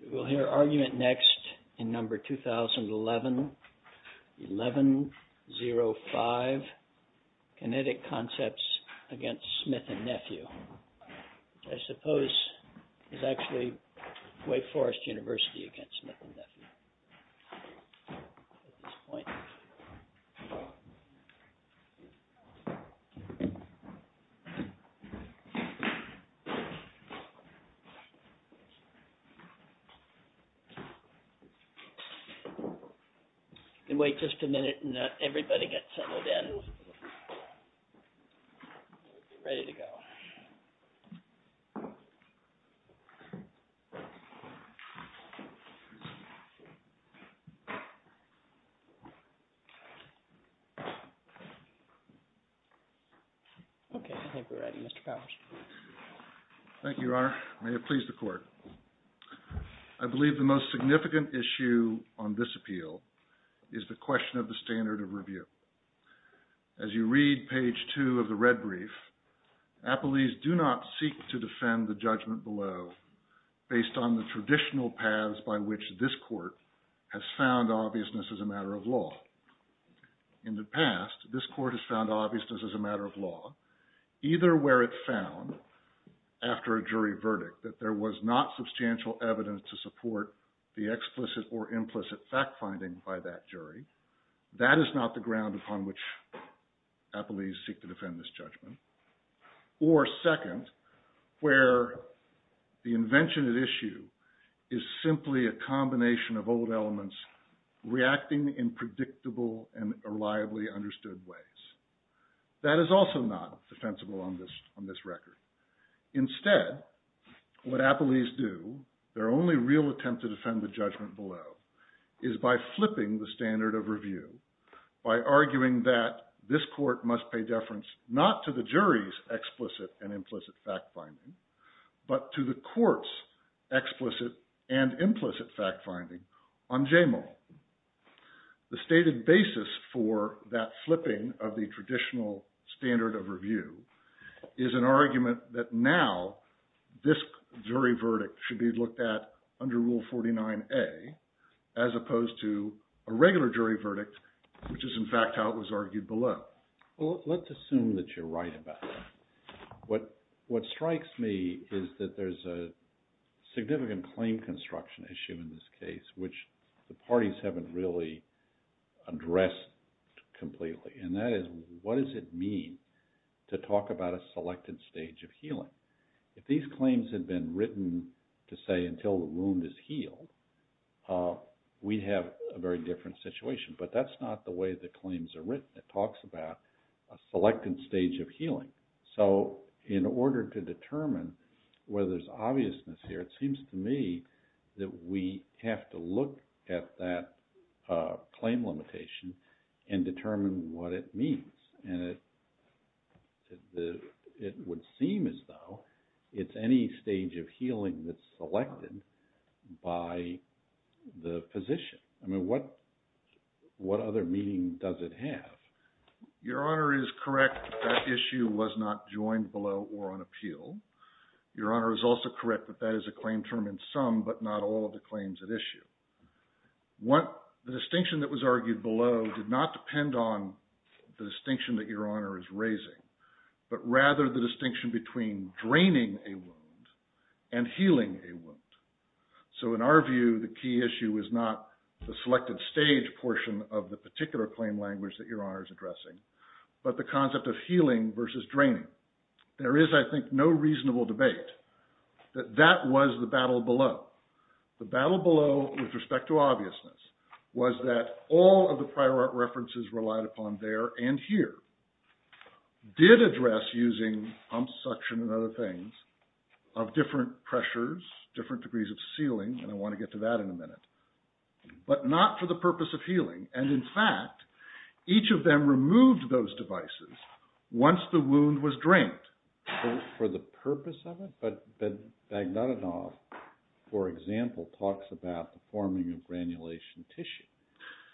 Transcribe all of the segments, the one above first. We will hear argument next in number 2011, 11.05, KINETIC CONCEPTS AGAINST SMITH & NEPHEW. I suppose it's actually Wake Forest University against Smith & Nephew at this point. We'll wait just a minute and let everybody get settled in, ready to go. Okay, I think we're ready, Mr. Powers. Thank you, Your Honor. May it please the Court. I believe the most significant issue on this appeal is the question of the standard of review. As you read page two of the red brief, Appellees do not seek to defend the judgment below based on the traditional paths by which this Court has found obviousness as a matter of law. In the past, this Court has found obviousness as a matter of law either where it found, after a jury verdict, that there was not substantial evidence to support the explicit or implicit fact-finding by that jury. That is not the ground upon which Appellees seek to defend this judgment. Or second, where the invention at issue is simply a combination of old elements reacting in predictable and reliably understood ways. That is also not defensible on this record. Instead, what Appellees do, their only real attempt to defend the judgment below, is by flipping the standard of review, by arguing that this Court must pay deference not to the jury's explicit and implicit fact-finding, but to the Court's explicit and implicit fact-finding on Jamal. The stated basis for that flipping of the traditional standard of review is an argument that now this jury verdict should be looked at under Rule 49A, as opposed to a regular jury verdict, which is in fact how it was argued below. Well, let's assume that you're right about that. What strikes me is that there's a significant claim construction issue in this case, which the parties haven't really addressed completely. And that is, what does it mean to talk about a selected stage of healing? If these claims had been written to say until the wound is healed, we'd have a very different situation. But that's not the way the claims are written. It talks about a selected stage of healing. So in order to determine whether there's obviousness here, it seems to me that we have to look at that claim limitation and determine what it means. And it would seem as though it's any stage of healing that's selected by the physician. I mean, what other meaning does it have? Your Honor is correct that that issue was not joined below or on appeal. Your Honor is also correct that that is a claim term in sum, but not all of the claims at issue. The distinction that was argued below did not depend on the distinction that Your Honor is raising, but rather the distinction between draining a wound and healing a wound. So in our view, the key issue is not the selected stage portion of the particular claim language that Your Honor is addressing, but the concept of healing versus draining. There is, I think, no reasonable debate that that was the battle below. The battle below with respect to obviousness was that all of the prior references relied upon there and here did address using pump suction and other things of different pressures, different degrees of sealing, and I want to get to that in a minute, but not for the purpose of healing. And in fact, each of them removed those devices once the wound was drained. For the purpose of it? But Bagnatanoff, for example, talks about the forming of granulation tissue.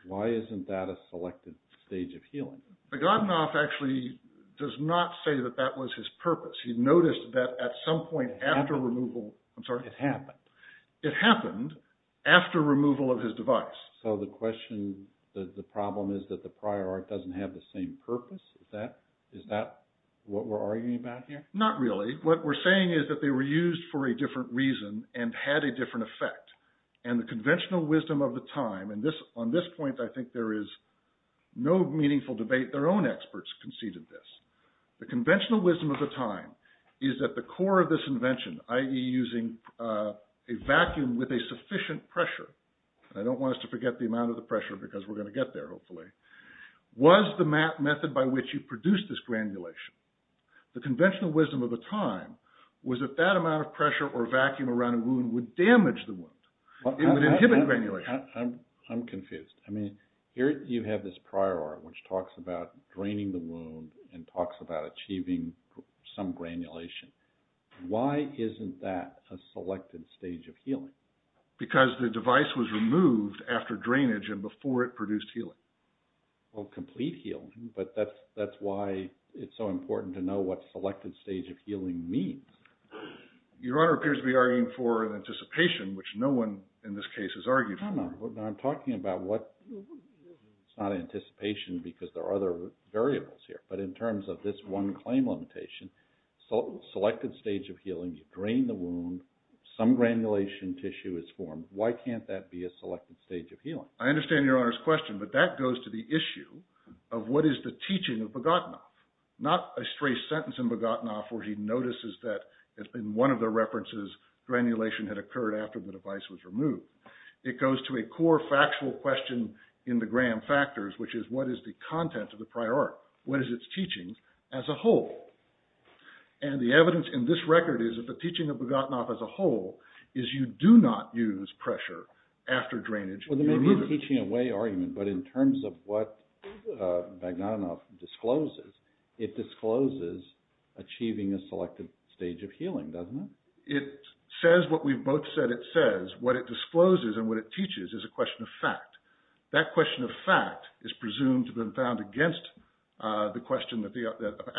Why isn't that a selected stage of healing? Bagnatanoff actually does not say that that was his purpose. He noticed that at some point after removal – I'm sorry? It happened. It happened after removal of his device. So the question, the problem is that the prior art doesn't have the same purpose? Is that what we're arguing about here? Not really. What we're saying is that they were used for a different reason and had a different effect. And the conventional wisdom of the time, and on this point I think there is no meaningful debate. Their own experts conceded this. The conventional wisdom of the time is that the core of this invention, i.e. using a vacuum with a sufficient pressure, and I don't want us to forget the amount of the pressure because we're going to get there hopefully, was the method by which you produced this granulation. The conventional wisdom of the time was that that amount of pressure or vacuum around a wound would damage the wound. It would inhibit granulation. I'm confused. I mean here you have this prior art which talks about draining the wound and talks about achieving some granulation. Why isn't that a selected stage of healing? Because the device was removed after drainage and before it produced healing. Well, complete healing, but that's why it's so important to know what selected stage of healing means. Your Honor appears to be arguing for an anticipation, which no one in this case is arguing for. I'm talking about what – it's not anticipation because there are other variables here. But in terms of this one claim limitation, selected stage of healing, you drain the wound, some granulation tissue is formed. Why can't that be a selected stage of healing? I understand Your Honor's question, but that goes to the issue of what is the teaching of Bogdanov. Not a stray sentence in Bogdanov where he notices that in one of the references granulation had occurred after the device was removed. It goes to a core factual question in the Graham Factors, which is what is the content of the prior art? What is its teaching as a whole? And the evidence in this record is that the teaching of Bogdanov as a whole is you do not use pressure after drainage. Well, there may be a teaching away argument, but in terms of what Bogdanov discloses, it discloses achieving a selected stage of healing, doesn't it? It says what we've both said it says. What it discloses and what it teaches is a question of fact. That question of fact is presumed to have been found against the question that the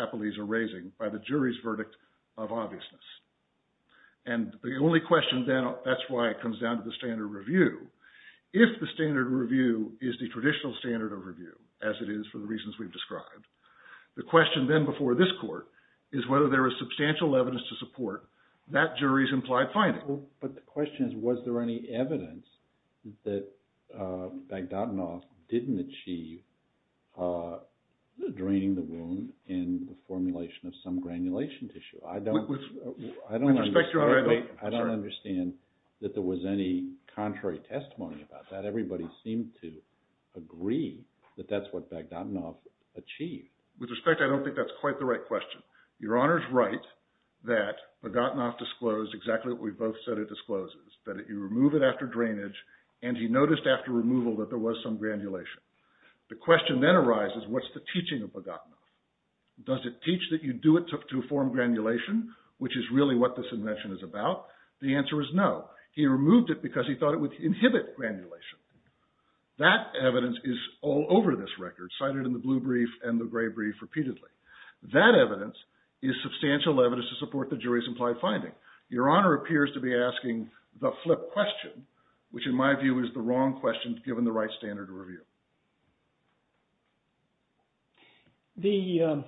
appellees are raising by the jury's verdict of obviousness. And the only question then – that's why it comes down to the standard review. If the standard review is the traditional standard of review, as it is for the reasons we've described, the question then before this court is whether there is substantial evidence to support that jury's implied finding. But the question is was there any evidence that Bogdanov didn't achieve draining the wound in the formulation of some granulation tissue? I don't understand that there was any contrary testimony about that. Everybody seemed to agree that that's what Bogdanov achieved. With respect, I don't think that's quite the right question. Your Honor's right that Bogdanov disclosed exactly what we've both said it discloses, that you remove it after drainage, and he noticed after removal that there was some granulation. The question then arises, what's the teaching of Bogdanov? Does it teach that you do it to form granulation, which is really what this invention is about? The answer is no. He removed it because he thought it would inhibit granulation. That evidence is all over this record, cited in the blue brief and the gray brief repeatedly. That evidence is substantial evidence to support the jury's implied finding. Your Honor appears to be asking the flip question, which in my view is the wrong question given the right standard review. The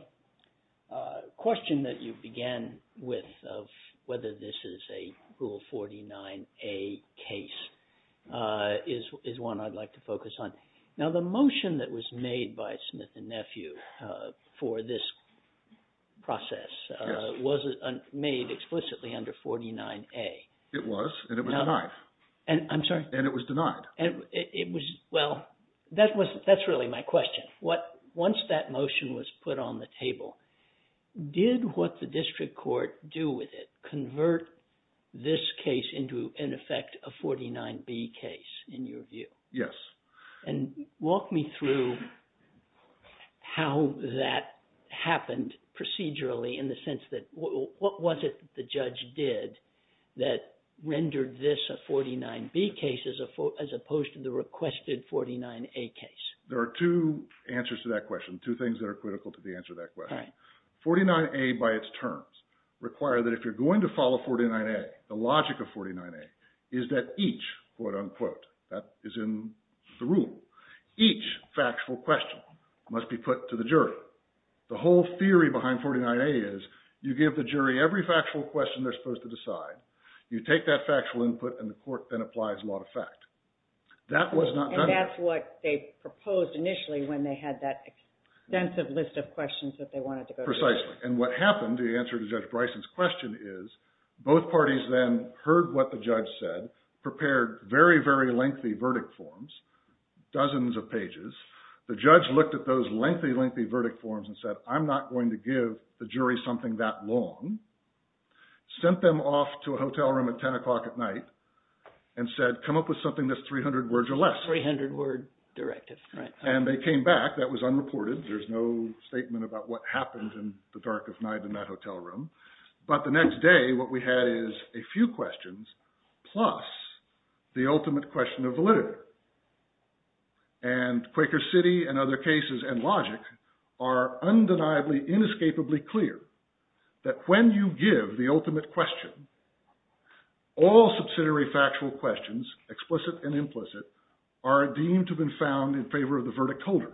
question that you began with of whether this is a Rule 49A case is one I'd like to focus on. Now, the motion that was made by Smith and Nephew for this process was made explicitly under 49A. It was, and it was denied. I'm sorry? And it was denied. Well, that's really my question. Once that motion was put on the table, did what the district court do with it convert this case into, in effect, a 49B case in your view? Yes. And walk me through how that happened procedurally in the sense that what was it that the judge did that rendered this a 49B case as opposed to the requested 49A case? There are two answers to that question, two things that are critical to the answer to that question. 49A by its terms require that if you're going to follow 49A, the logic of 49A is that each, quote unquote, that is in the Rule, each factual question must be put to the jury. The whole theory behind 49A is you give the jury every factual question they're supposed to decide, you take that factual input, and the court then applies law to fact. And that's what they proposed initially when they had that extensive list of questions that they wanted to go through. Precisely. And what happened, the answer to Judge Bryson's question is both parties then heard what the judge said, prepared very, very lengthy verdict forms, dozens of pages. The judge looked at those lengthy, lengthy verdict forms and said, I'm not going to give the jury something that long. Sent them off to a hotel room at 10 o'clock at night and said, come up with something that's 300 words or less. 300 word directive, right. And they came back, that was unreported, there's no statement about what happened in the dark of night in that hotel room. But the next day what we had is a few questions plus the ultimate question of validity. And Quaker City and other cases and logic are undeniably, inescapably clear that when you give the ultimate question, all subsidiary factual questions, explicit and implicit, are deemed to have been found in favor of the verdict holder.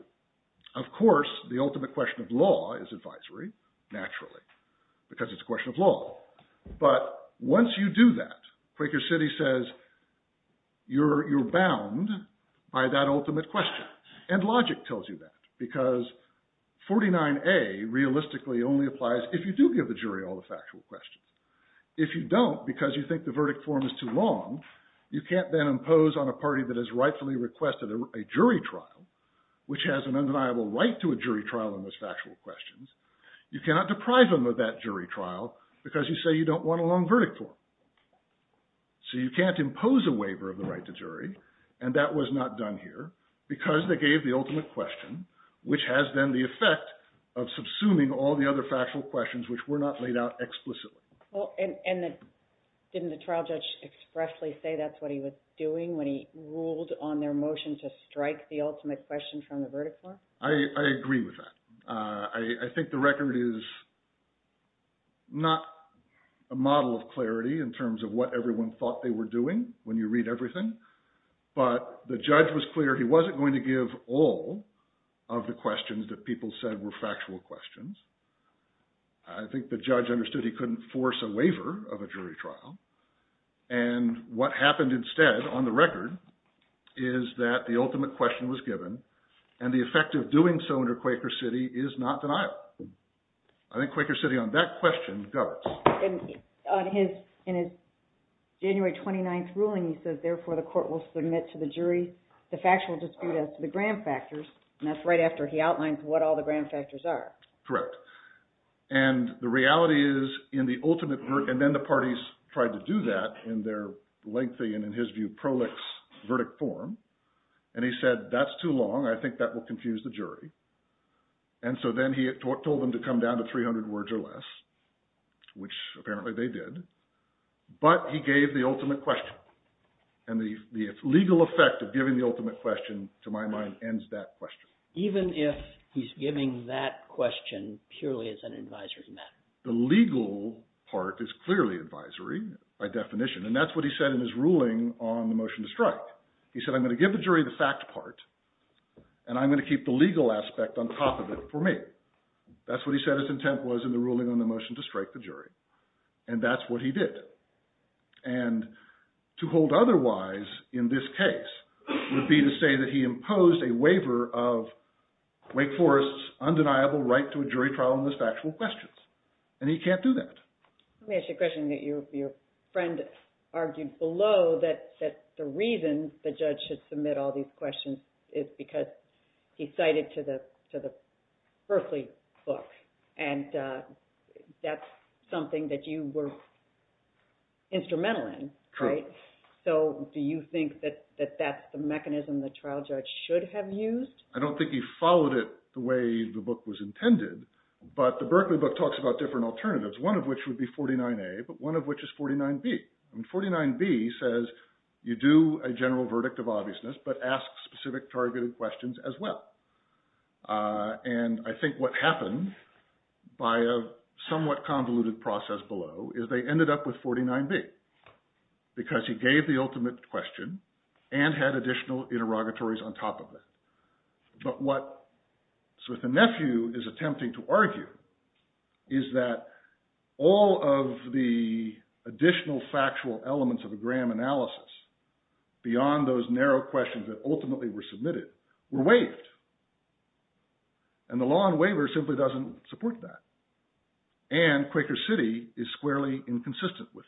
Of course, the ultimate question of law is advisory, naturally, because it's a question of law. But once you do that, Quaker City says, you're bound by that ultimate question. And logic tells you that. Because 49A realistically only applies if you do give the jury all the factual questions. If you don't, because you think the verdict form is too long, you can't then impose on a party that has rightfully requested a jury trial, which has an undeniable right to a jury trial on those factual questions. You cannot deprive them of that jury trial because you say you don't want a long verdict form. So you can't impose a waiver of the right to jury, and that was not done here, because they gave the ultimate question, which has then the effect of subsuming all the other factual questions which were not laid out explicitly. And didn't the trial judge expressly say that's what he was doing when he ruled on their motion to strike the ultimate question from the verdict form? I agree with that. I think the record is not a model of clarity in terms of what everyone thought they were doing when you read everything. But the judge was clear he wasn't going to give all of the questions that people said were factual questions. I think the judge understood he couldn't force a waiver of a jury trial. And what happened instead on the record is that the ultimate question was given, and the effect of doing so under Quaker City is not denial. I think Quaker City on that question governs. In his January 29th ruling he says, therefore, the court will submit to the jury the factual dispute as to the grand factors, and that's right after he outlines what all the grand factors are. Correct. And the reality is in the ultimate – and then the parties tried to do that in their lengthy and, in his view, prolix verdict form. And he said that's too long. I think that will confuse the jury. And so then he told them to come down to 300 words or less, which apparently they did. But he gave the ultimate question, and the legal effect of giving the ultimate question, to my mind, ends that question. Even if he's giving that question purely as an advisory matter? The legal part is clearly advisory by definition, and that's what he said in his ruling on the motion to strike. He said I'm going to give the jury the fact part, and I'm going to keep the legal aspect on top of it for me. That's what he said his intent was in the ruling on the motion to strike the jury, and that's what he did. And to hold otherwise in this case would be to say that he imposed a waiver of Wake Forest's undeniable right to a jury trial on those factual questions, and he can't do that. Let me ask you a question that your friend argued below, that the reason the judge should submit all these questions is because he cited to the Berkeley book. And that's something that you were instrumental in, right? So do you think that that's the mechanism the trial judge should have used? I don't think he followed it the way the book was intended, but the Berkeley book talks about different alternatives, one of which would be 49A, but one of which is 49B. And 49B says you do a general verdict of obviousness, but ask specific targeted questions as well. And I think what happened by a somewhat convoluted process below is they ended up with 49B because he gave the ultimate question and had additional interrogatories on top of it. But what Smith and Nephew is attempting to argue is that all of the additional factual elements of a Graham analysis beyond those narrow questions that ultimately were submitted were waived. And the law on waiver simply doesn't support that. And Quaker City is squarely inconsistent with that.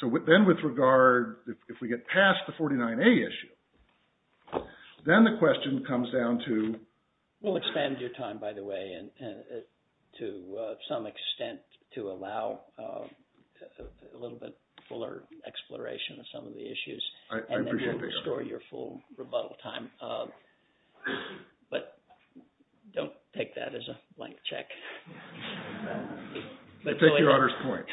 So then with regard, if we get past the 49A issue, then the question comes down to… We'll expand your time, by the way, to some extent to allow a little bit fuller exploration of some of the issues. I appreciate that. And then we'll restore your full rebuttal time. But don't take that as a blank check. But take your honor's point.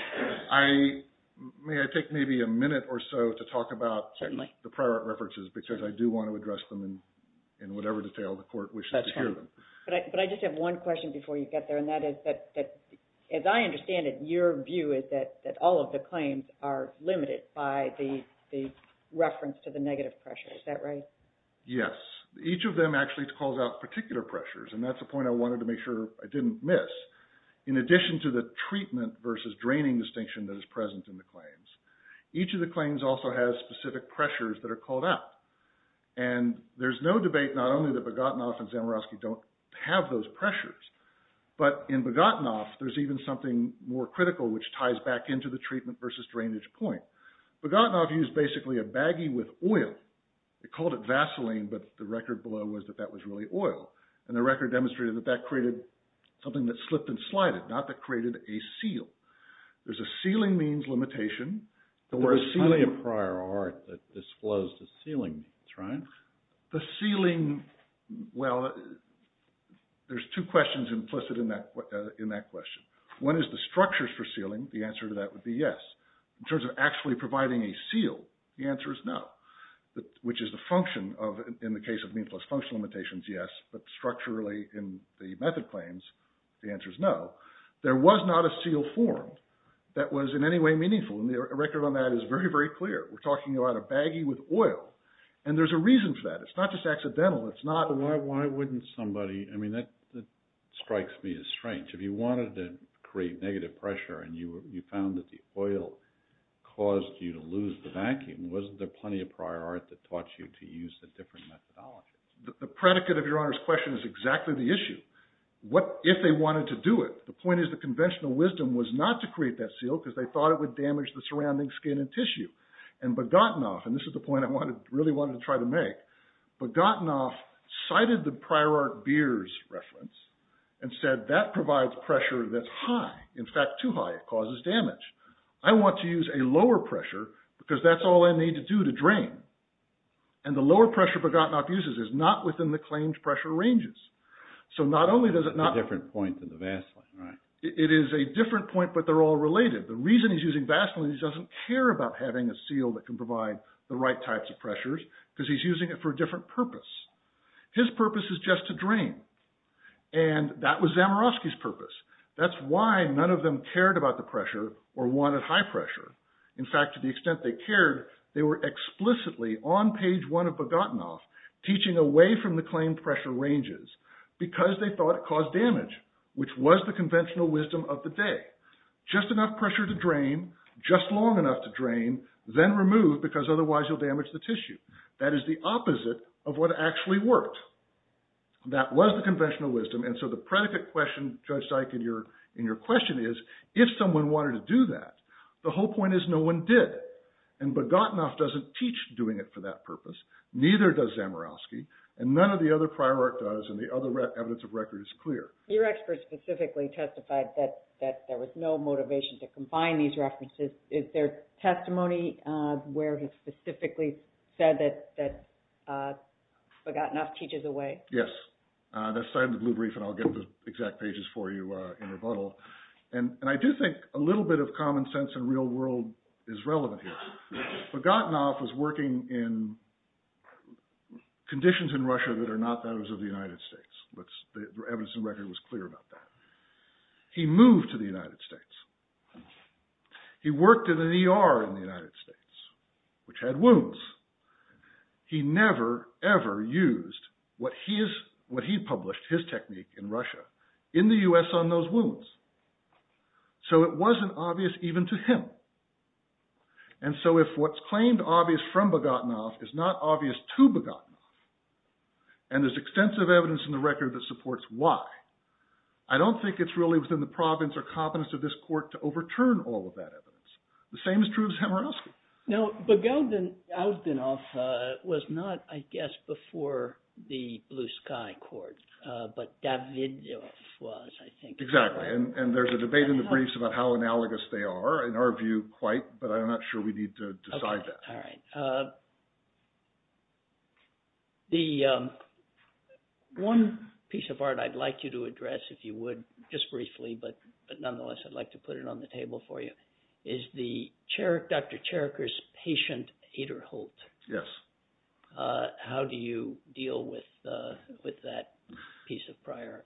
May I take maybe a minute or so to talk about the prior references because I do want to address them in whatever detail the court wishes to hear them. But I just have one question before you get there, and that is that, as I understand it, your view is that all of the claims are limited by the reference to the negative pressure. Is that right? Yes. Each of them actually calls out particular pressures, and that's a point I wanted to make sure I didn't miss. In addition to the treatment versus draining distinction that is present in the claims, each of the claims also has specific pressures that are called out. And there's no debate not only that Bogatinoff and Zamierowski don't have those pressures, but in Bogatinoff, there's even something more critical which ties back into the treatment versus drainage point. Bogatinoff used basically a baggie with oil. They called it Vaseline, but the record below was that that was really oil. And the record demonstrated that that created something that slipped and slided, not that created a seal. There's a sealing means limitation. There was plenty of prior art that disclosed the sealing. That's right. The sealing, well, there's two questions implicit in that question. One is the structures for sealing. The answer to that would be yes. In terms of actually providing a seal, the answer is no. Which is the function of, in the case of mean plus function limitations, yes, but structurally in the method claims, the answer is no. There was not a seal formed that was in any way meaningful. And the record on that is very, very clear. We're talking about a baggie with oil. And there's a reason for that. It's not just accidental. It's not… Why wouldn't somebody… I mean, that strikes me as strange. If you wanted to create negative pressure and you found that the oil caused you to lose the vacuum, wasn't there plenty of prior art that taught you to use a different methodology? The predicate of Your Honor's question is exactly the issue. What if they wanted to do it? The point is the conventional wisdom was not to create that seal because they thought it would damage the surrounding skin and tissue. And Bogotanoff, and this is the point I really wanted to try to make, Bogotanoff cited the prior art beers reference and said that provides pressure that's high. In fact, too high. It causes damage. I want to use a lower pressure because that's all I need to do to drain. And the lower pressure Bogotanoff uses is not within the claimed pressure ranges. So not only does it not… It's a different point than the Vaseline, right? It is a different point, but they're all related. The reason he's using Vaseline is he doesn't care about having a seal that can provide the right types of pressures because he's using it for a different purpose. His purpose is just to drain. And that was Zamierowski's purpose. That's why none of them cared about the pressure or wanted high pressure. In fact, to the extent they cared, they were explicitly on page one of Bogotanoff teaching away from the claimed pressure ranges because they thought it caused damage, which was the conventional wisdom of the day. Just enough pressure to drain, just long enough to drain, then remove because otherwise you'll damage the tissue. That is the opposite of what actually worked. That was the conventional wisdom. And so the predicate question, Judge Syke, in your question is if someone wanted to do that. The whole point is no one did. And Bogotanoff doesn't teach doing it for that purpose. Neither does Zamierowski. And none of the other prior art does. And the other evidence of record is clear. Your expert specifically testified that there was no motivation to combine these references. Is there testimony where he specifically said that Bogotanoff teaches away? Yes. That's cited in the blue brief, and I'll get the exact pages for you in rebuttal. And I do think a little bit of common sense and real world is relevant here. Bogotanoff was working in conditions in Russia that are not those of the United States. The evidence of record was clear about that. He moved to the United States. He worked in the ER in the United States, which had wounds. He never, ever used what he published, his technique in Russia, in the U.S. on those wounds. So it wasn't obvious even to him. And so if what's claimed obvious from Bogotanoff is not obvious to Bogotanoff, and there's extensive evidence in the record that supports why, I don't think it's really within the province or competence of this court to overturn all of that evidence. The same is true of Zhemirowski. Now, Bogotanoff was not, I guess, before the Blue Sky Court, but Davidoff was, I think. Exactly. And there's a debate in the briefs about how analogous they are, in our view, quite, but I'm not sure we need to decide that. All right. The one piece of art I'd like you to address, if you would, just briefly, but nonetheless I'd like to put it on the table for you, is Dr. Cheriker's patient, Ederholt. Yes. How do you deal with that piece of prior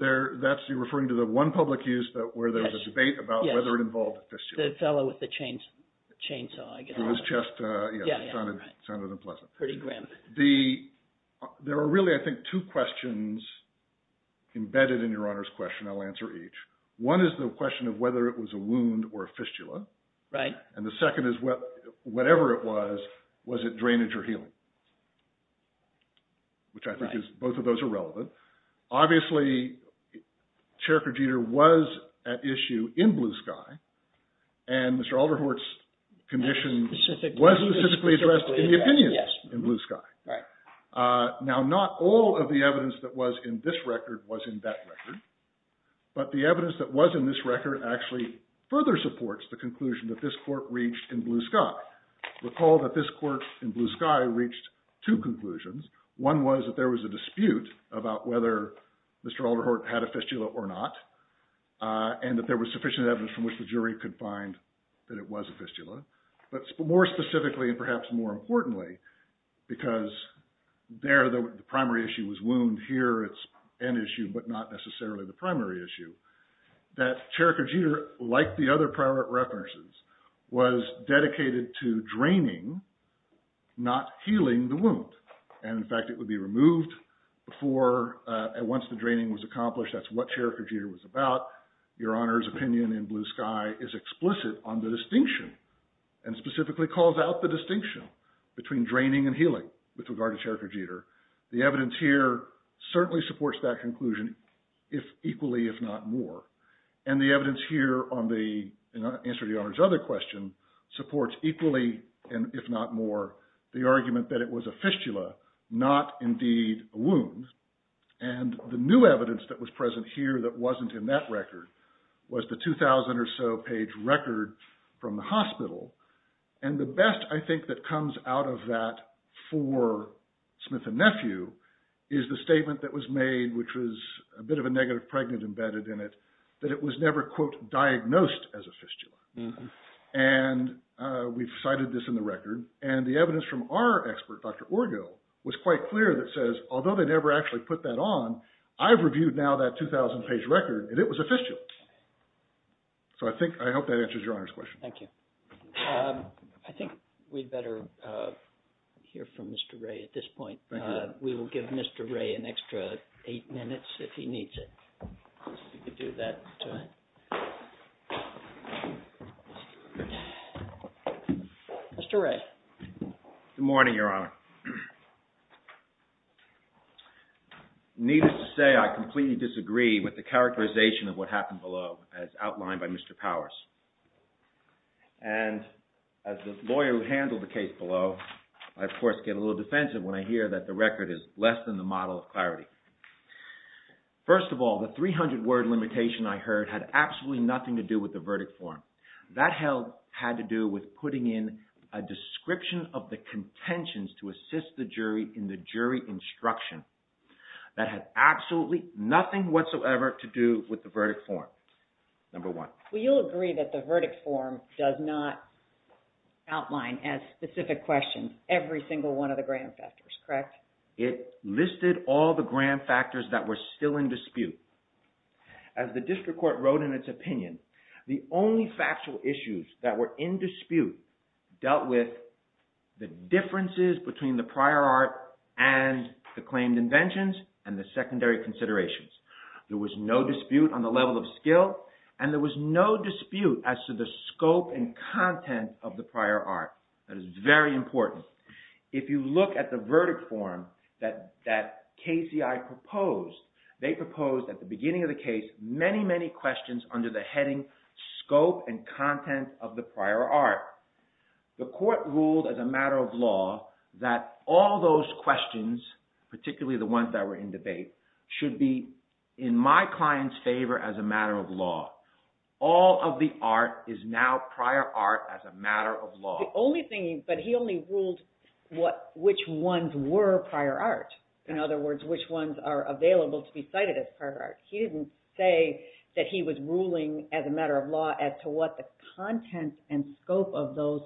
art? That's you referring to the one public use where there was a debate about whether it involved a fistula? Yes, the fellow with the chainsaw. It sounded unpleasant. Pretty grim. There are really, I think, two questions embedded in Your Honor's question. I'll answer each. One is the question of whether it was a wound or a fistula. Right. And the second is, whatever it was, was it drainage or healing, which I think both of those are relevant. Obviously, Cheriker-Jeter was at issue in Blue Sky, and Mr. Ederholt's condition was specifically addressed in the opinion in Blue Sky. Right. Now, not all of the evidence that was in this record was in that record, but the evidence that was in this record actually further supports the conclusion that this court reached in Blue Sky. Now, recall that this court in Blue Sky reached two conclusions. One was that there was a dispute about whether Mr. Ederholt had a fistula or not, and that there was sufficient evidence from which the jury could find that it was a fistula. But more specifically, and perhaps more importantly, because there the primary issue was wound. Here it's an issue, but not necessarily the primary issue, that Cheriker-Jeter, like the other prior references, was dedicated to draining, not healing, the wound. And in fact, it would be removed once the draining was accomplished. That's what Cheriker-Jeter was about. Your Honor's opinion in Blue Sky is explicit on the distinction and specifically calls out the distinction between draining and healing with regard to Cheriker-Jeter. The evidence here certainly supports that conclusion equally, if not more. And the evidence here, in answer to Your Honor's other question, supports equally, if not more, the argument that it was a fistula, not indeed a wound. And the new evidence that was present here that wasn't in that record was the 2,000 or so page record from the hospital. And the best, I think, that comes out of that for Smith and Nephew is the statement that was made, which was a bit of a negative pregnant embedded in it, that it was never, quote, diagnosed as a fistula. And we've cited this in the record, and the evidence from our expert, Dr. Orgel, was quite clear that says, although they never actually put that on, I've reviewed now that 2,000 page record, and it was a fistula. So I think, I hope that answers Your Honor's question. Thank you. I think we'd better hear from Mr. Wray at this point. We will give Mr. Wray an extra eight minutes if he needs it. If you could do that. Mr. Wray. Good morning, Your Honor. Needless to say, I completely disagree with the characterization of what happened below as outlined by Mr. Powers. And as the lawyer who handled the case below, I, of course, get a little defensive when I hear that the record is less than the model of clarity. First of all, the 300-word limitation I heard had absolutely nothing to do with the verdict form. That had to do with putting in a description of the contentions to assist the jury in the jury instruction. That had absolutely nothing whatsoever to do with the verdict form, number one. Well, you'll agree that the verdict form does not outline as specific questions every single one of the grand factors, correct? It listed all the grand factors that were still in dispute. As the district court wrote in its opinion, the only factual issues that were in dispute dealt with the differences between the prior art and the claimed inventions and the secondary considerations. There was no dispute on the level of skill, and there was no dispute as to the scope and content of the prior art. That is very important. If you look at the verdict form that KCI proposed, they proposed at the beginning of the case many, many questions under the heading scope and content of the prior art. The court ruled as a matter of law that all those questions, particularly the ones that were in debate, should be in my client's favor as a matter of law. All of the art is now prior art as a matter of law. But he only ruled which ones were prior art. In other words, which ones are available to be cited as prior art. He didn't say that he was ruling as a matter of law as to what the content and scope of those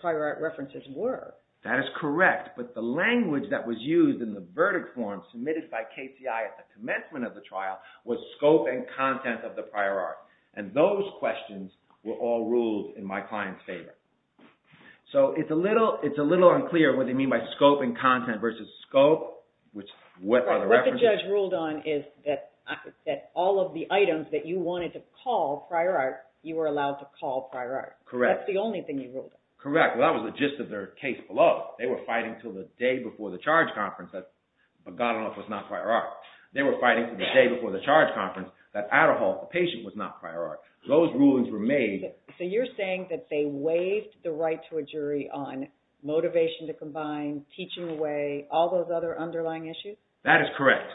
prior art references were. That is correct, but the language that was used in the verdict form submitted by KCI at the commencement of the trial was scope and content of the prior art. And those questions were all ruled in my client's favor. So it's a little unclear what they mean by scope and content versus scope. What the judge ruled on is that all of the items that you wanted to call prior art, you were allowed to call prior art. Correct. That's the only thing you ruled on. Correct. Well, that was the gist of their case below. They were fighting until the day before the charge conference that Paganoff was not prior art. They were fighting until the day before the charge conference that Aderholt, the patient, was not prior art. Those rulings were made. So you're saying that they waived the right to a jury on motivation to combine, teaching away, all those other underlying issues? That is correct.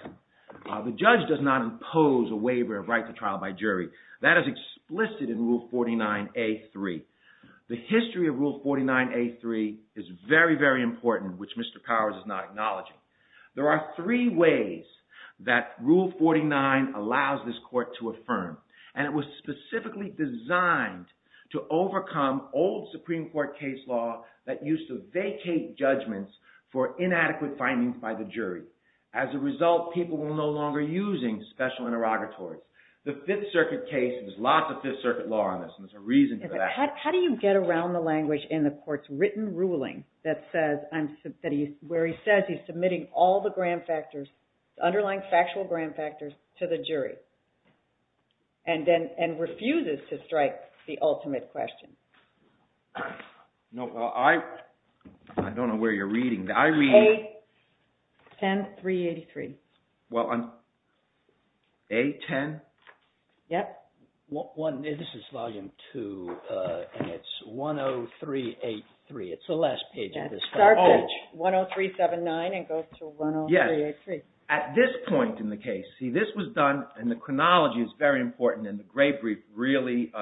The judge does not impose a waiver of right to trial by jury. That is explicit in Rule 49A.3. The history of Rule 49A.3 is very, very important, which Mr. Powers is not acknowledging. There are three ways that Rule 49 allows this court to affirm. And it was specifically designed to overcome old Supreme Court case law that used to vacate judgments for inadequate findings by the jury. As a result, people were no longer using special interrogatories. The Fifth Circuit case, there's lots of Fifth Circuit law on this, and there's a reason for that. How do you get around the language in the court's written ruling where he says he's submitting all the grand factors, underlying factual grand factors, to the jury and refuses to strike the ultimate question? I don't know where you're reading. A10383. A10? Yes. This is Volume 2, and it's A10383. It's the last page of this page. Start page 10379 and go to A10383. Yes. At this point in the case, see, this was done, and the chronology is very important, and the great brief really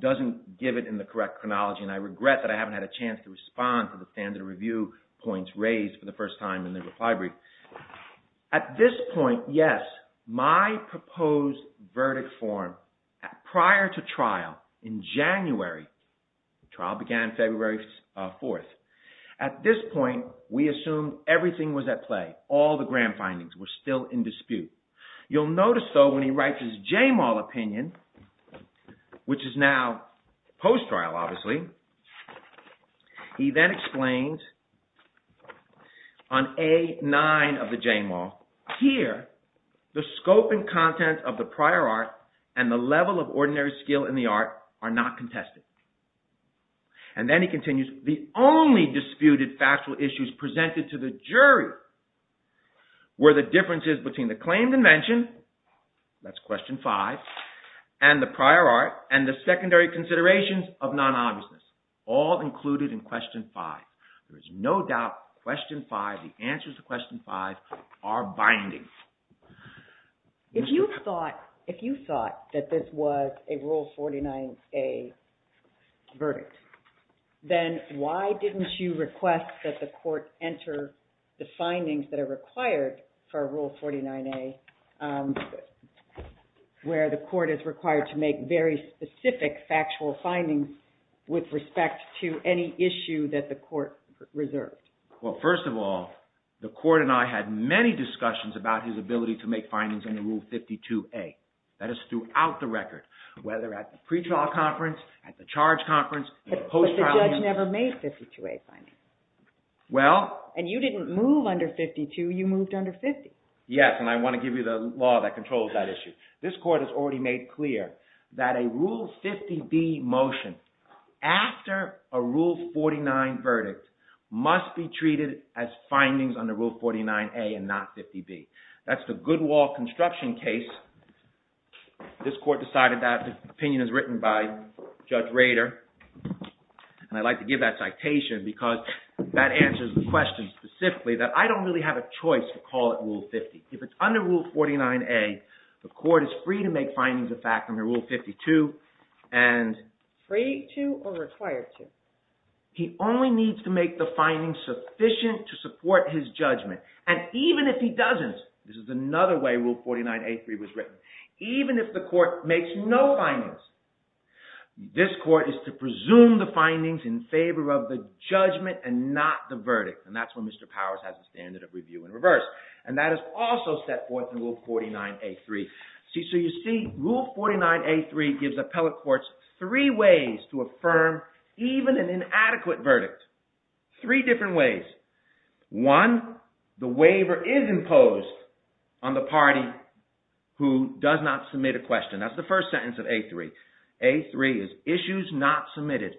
doesn't give it in the correct chronology, and I regret that I haven't had a chance to respond to the standard review points raised for the first time in the reply brief. At this point, yes, my proposed verdict form prior to trial in January, the trial began February 4th. At this point, we assumed everything was at play. All the grand findings were still in dispute. You'll notice, though, when he writes his Jamal opinion, which is now post-trial, obviously, he then explains on A9 of the Jamal, here the scope and content of the prior art and the level of ordinary skill in the art are not contested. And then he continues, the only disputed factual issues presented to the jury were the differences between the claimed invention, that's question 5, and the prior art, and the secondary considerations of non-obviousness, all included in question 5. There is no doubt question 5, the answers to question 5 are binding. If you thought that this was a Rule 49A verdict, then why didn't you request that the court enter the findings that are required for Rule 49A, where the court is required to make very specific factual findings with respect to any issue that the court reserved? Well, first of all, the court and I had many discussions about his ability to make findings under Rule 52A. That is throughout the record, whether at the pretrial conference, at the charge conference, the post-trial hearing. But the judge never made 52A findings. Well… And you didn't move under 52, you moved under 50. Yes, and I want to give you the law that controls that issue. This court has already made clear that a Rule 50B motion after a Rule 49 verdict must be treated as findings under Rule 49A and not 50B. That's the Goodwall construction case. This court decided that. The opinion is written by Judge Rader. And I'd like to give that citation because that answers the question specifically that I don't really have a choice to call it Rule 50. If it's under Rule 49A, the court is free to make findings of fact under Rule 52. Free to or required to? He only needs to make the findings sufficient to support his judgment. And even if he doesn't, this is another way Rule 49A was written. Even if the court makes no findings, this court is to presume the findings in favor of the judgment and not the verdict. And that's when Mr. Powers has a standard of review in reverse. And that is also set forth in Rule 49A-3. So you see, Rule 49A-3 gives appellate courts three ways to affirm even an inadequate verdict. Three different ways. One, the waiver is imposed on the party who does not submit a question. That's the first sentence of A-3. A-3 is issues not submitted.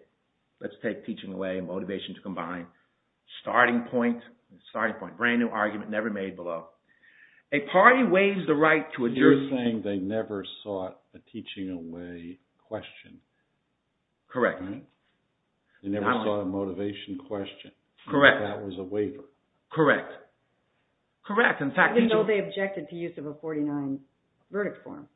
Let's take teaching away, motivation to combine. Starting point, starting point. Brand new argument, never made below. A party waives the right to a… You're saying they never sought a teaching away question. Correct. They never sought a motivation question. Correct. That was a waiver. Correct. Correct. Even though they objected to use of a 49 verdict form.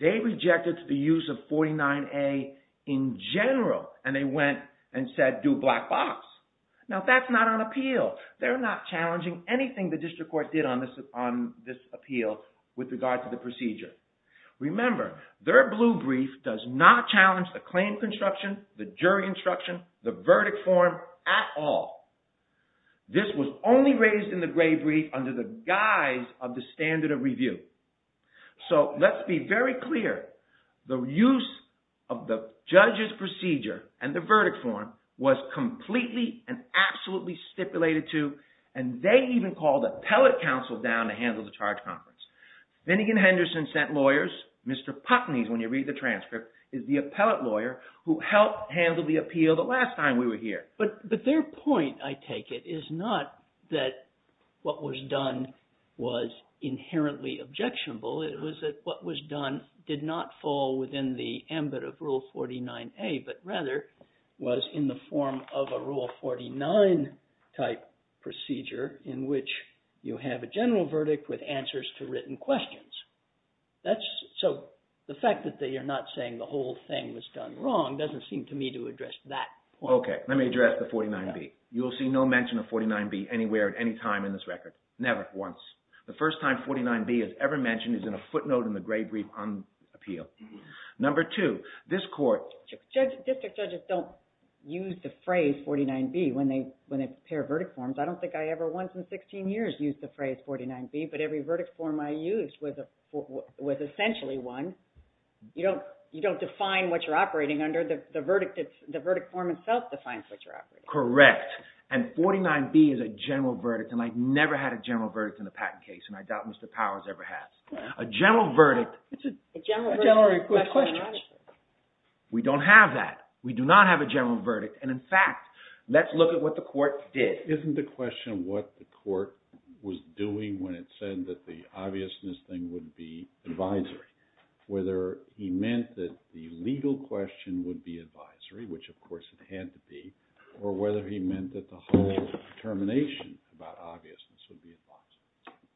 They rejected the use of 49A in general. And they went and said, do black box. Now that's not on appeal. They're not challenging anything the district court did on this appeal with regard to the procedure. Remember, their blue brief does not challenge the claim construction, the jury instruction, the verdict form at all. This was only raised in the gray brief under the guise of the standard of review. So let's be very clear. The use of the judge's procedure and the verdict form was completely and absolutely stipulated to, and they even called appellate counsel down to handle the charge conference. Vinnigan Henderson sent lawyers. Mr. Putney, when you read the transcript, is the appellate lawyer who helped handle the appeal the last time we were here. But their point, I take it, is not that what was done was inherently objectionable. It was that what was done did not fall within the ambit of Rule 49A, but rather was in the form of a Rule 49 type procedure in which you have a general verdict with answers to written questions. So the fact that you're not saying the whole thing was done wrong doesn't seem to me to address that point. Okay, let me address the 49B. You will see no mention of 49B anywhere at any time in this record. Never, once. The first time 49B is ever mentioned is in a footnote in the gray brief on appeal. Number two, this court – District judges don't use the phrase 49B when they prepare verdict forms. I don't think I ever once in 16 years used the phrase 49B, but every verdict form I used was essentially one. You don't define what you're operating under. The verdict form itself defines what you're operating under. Correct. And 49B is a general verdict, and I've never had a general verdict in a patent case, and I doubt Mr. Powers ever has. A general verdict is a question. We don't have that. We do not have a general verdict. And in fact, let's look at what the court did. Isn't the question what the court was doing when it said that the obviousness thing would be advisory, whether he meant that the legal question would be advisory, which of course it had to be, or whether he meant that the whole determination about obviousness would be advisory?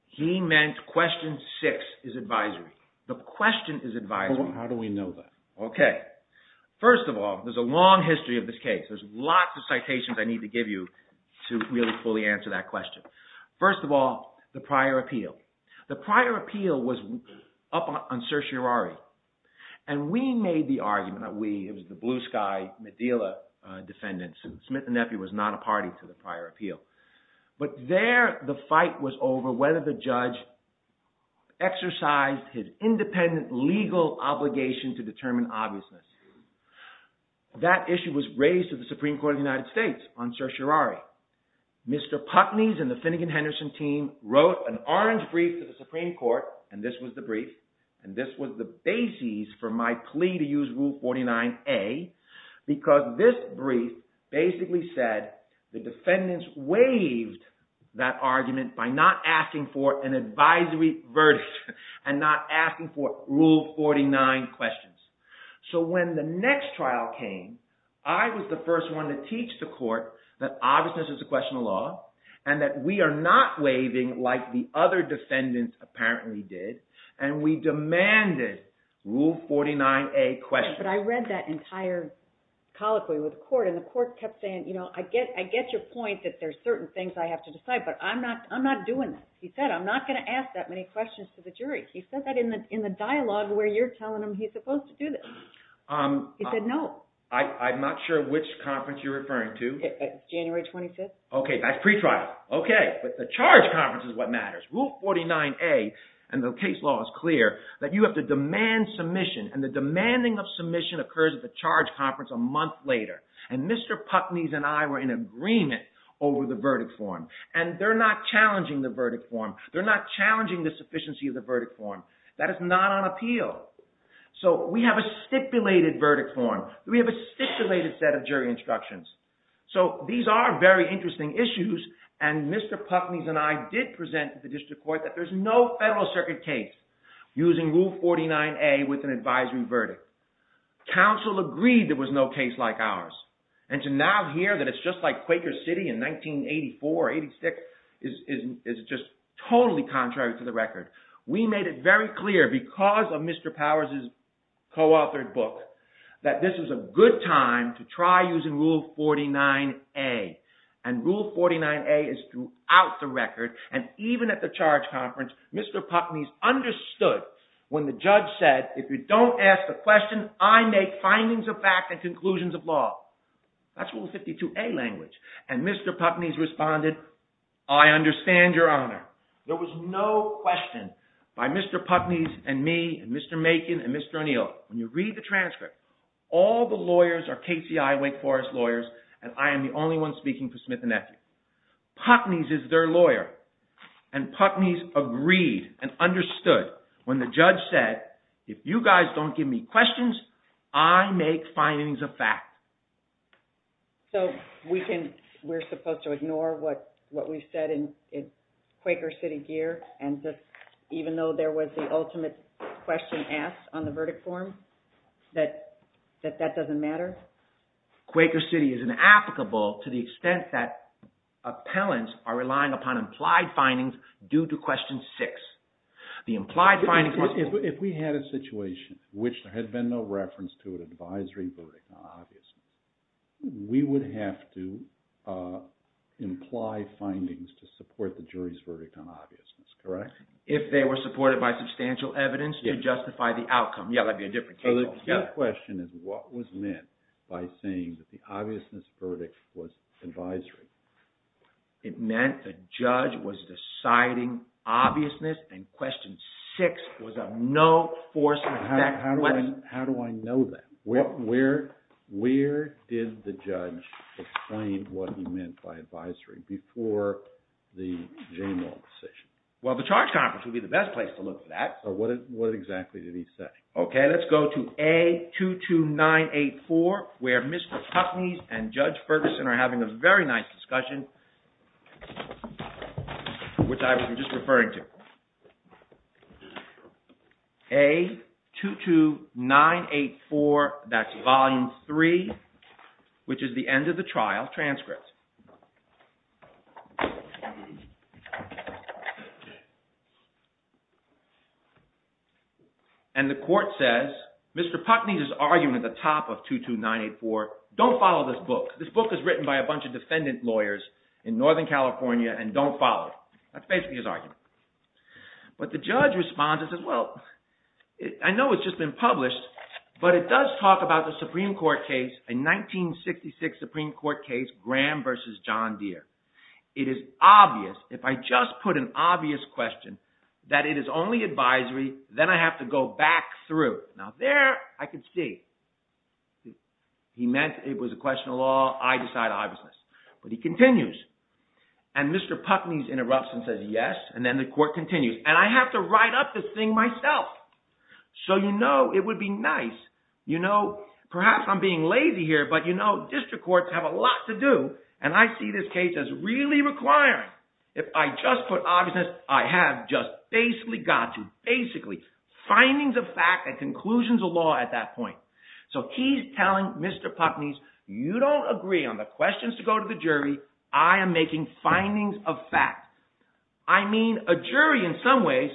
He meant question six is advisory. The question is advisory. How do we know that? Okay. First of all, there's a long history of this case. There's lots of citations I need to give you to really fully answer that question. First of all, the prior appeal. The prior appeal was up on certiorari, and we made the argument that we, it was the Blue Sky, Medilla defendants, and Smith and Nephew was not a party to the prior appeal. But there the fight was over whether the judge exercised his independent legal obligation to determine obviousness. That issue was raised to the Supreme Court of the United States on certiorari. Mr. Putney's and the Finnegan-Henderson team wrote an orange brief to the Supreme Court, and this was the brief, and this was the basis for my plea to use Rule 49A, because this brief basically said the defendants waived that argument by not asking for an advisory verdict and not asking for Rule 49 questions. So when the next trial came, I was the first one to teach the court that obviousness is a question of law and that we are not waiving like the other defendants apparently did, and we demanded Rule 49A questions. But I read that entire colloquy with the court, and the court kept saying, I get your point that there's certain things I have to decide, but I'm not doing that. He said, I'm not going to ask that many questions to the jury. He said that in the dialogue where you're telling him he's supposed to do this. He said no. I'm not sure which conference you're referring to. January 25th. Okay, that's pretrial. Okay, but the charge conference is what matters. Rule 49A, and the case law is clear, that you have to demand submission, and the demanding of submission occurs at the charge conference a month later. And Mr. Puckney and I were in agreement over the verdict form, and they're not challenging the verdict form. They're not challenging the sufficiency of the verdict form. That is not on appeal. So we have a stipulated verdict form. We have a stipulated set of jury instructions. So these are very interesting issues, and Mr. Puckney and I did present to the district court that there's no federal circuit case using Rule 49A with an advisory verdict. Council agreed there was no case like ours, and to now hear that it's just like Quaker City in 1984 or 86 is just totally contrary to the record. We made it very clear, because of Mr. Powers' co-authored book, that this is a good time to try using Rule 49A. And Rule 49A is throughout the record, and even at the charge conference, Mr. Puckney understood when the judge said, if you don't ask the question, I make findings of fact and conclusions of law. That's Rule 52A language. And Mr. Puckney responded, I understand your honor. There was no question by Mr. Puckney and me and Mr. Macon and Mr. O'Neill. When you read the transcript, all the lawyers are KCI Wake Forest lawyers, and I am the only one speaking for Smith and Nephew. Puckney is their lawyer, and Puckney agreed and understood when the judge said, if you guys don't give me questions, I make findings of fact. So we're supposed to ignore what we've said in Quaker City gear? And even though there was the ultimate question asked on the verdict form, that that doesn't matter? Quaker City is inapplicable to the extent that appellants are relying upon implied findings due to Question 6. If we had a situation in which there had been no reference to an advisory verdict on obviousness, we would have to imply findings to support the jury's verdict on obviousness, correct? If they were supported by substantial evidence to justify the outcome. Yeah, that'd be a different case. So the question is, what was meant by saying that the obviousness verdict was advisory? It meant the judge was deciding obviousness, and Question 6 was of no force in effect. How do I know that? Where did the judge explain what he meant by advisory before the Jamal decision? Well, the charge conference would be the best place to look for that. So what exactly did he say? Okay, let's go to A22984, where Mr. Tuckney and Judge Ferguson are having a very nice discussion, which I was just referring to. A22984, that's Volume 3, which is the end of the trial transcripts. And the court says, Mr. Tuckney's argument at the top of 22984, don't follow this book. This book is written by a bunch of defendant lawyers in Northern California, and don't follow it. That's basically his argument. But the judge responds and says, well, I know it's just been published, but it does talk about the Supreme Court case, a 1966 Supreme Court case, Graham v. John Deere. It is obvious, if I just put an obvious question, that it is only advisory. Then I have to go back through. Now there, I can see. He meant it was a question of law. I decide obviousness. But he continues. And Mr. Tuckney interrupts and says yes, and then the court continues. And I have to write up this thing myself. So you know it would be nice. You know, perhaps I'm being lazy here, but you know district courts have a lot to do. And I see this case as really requiring, if I just put obviousness, I have just basically got to, basically, findings of fact and conclusions of law at that point. So he's telling Mr. Tuckney's, you don't agree on the questions to go to the jury. I am making findings of fact. I mean, a jury in some ways,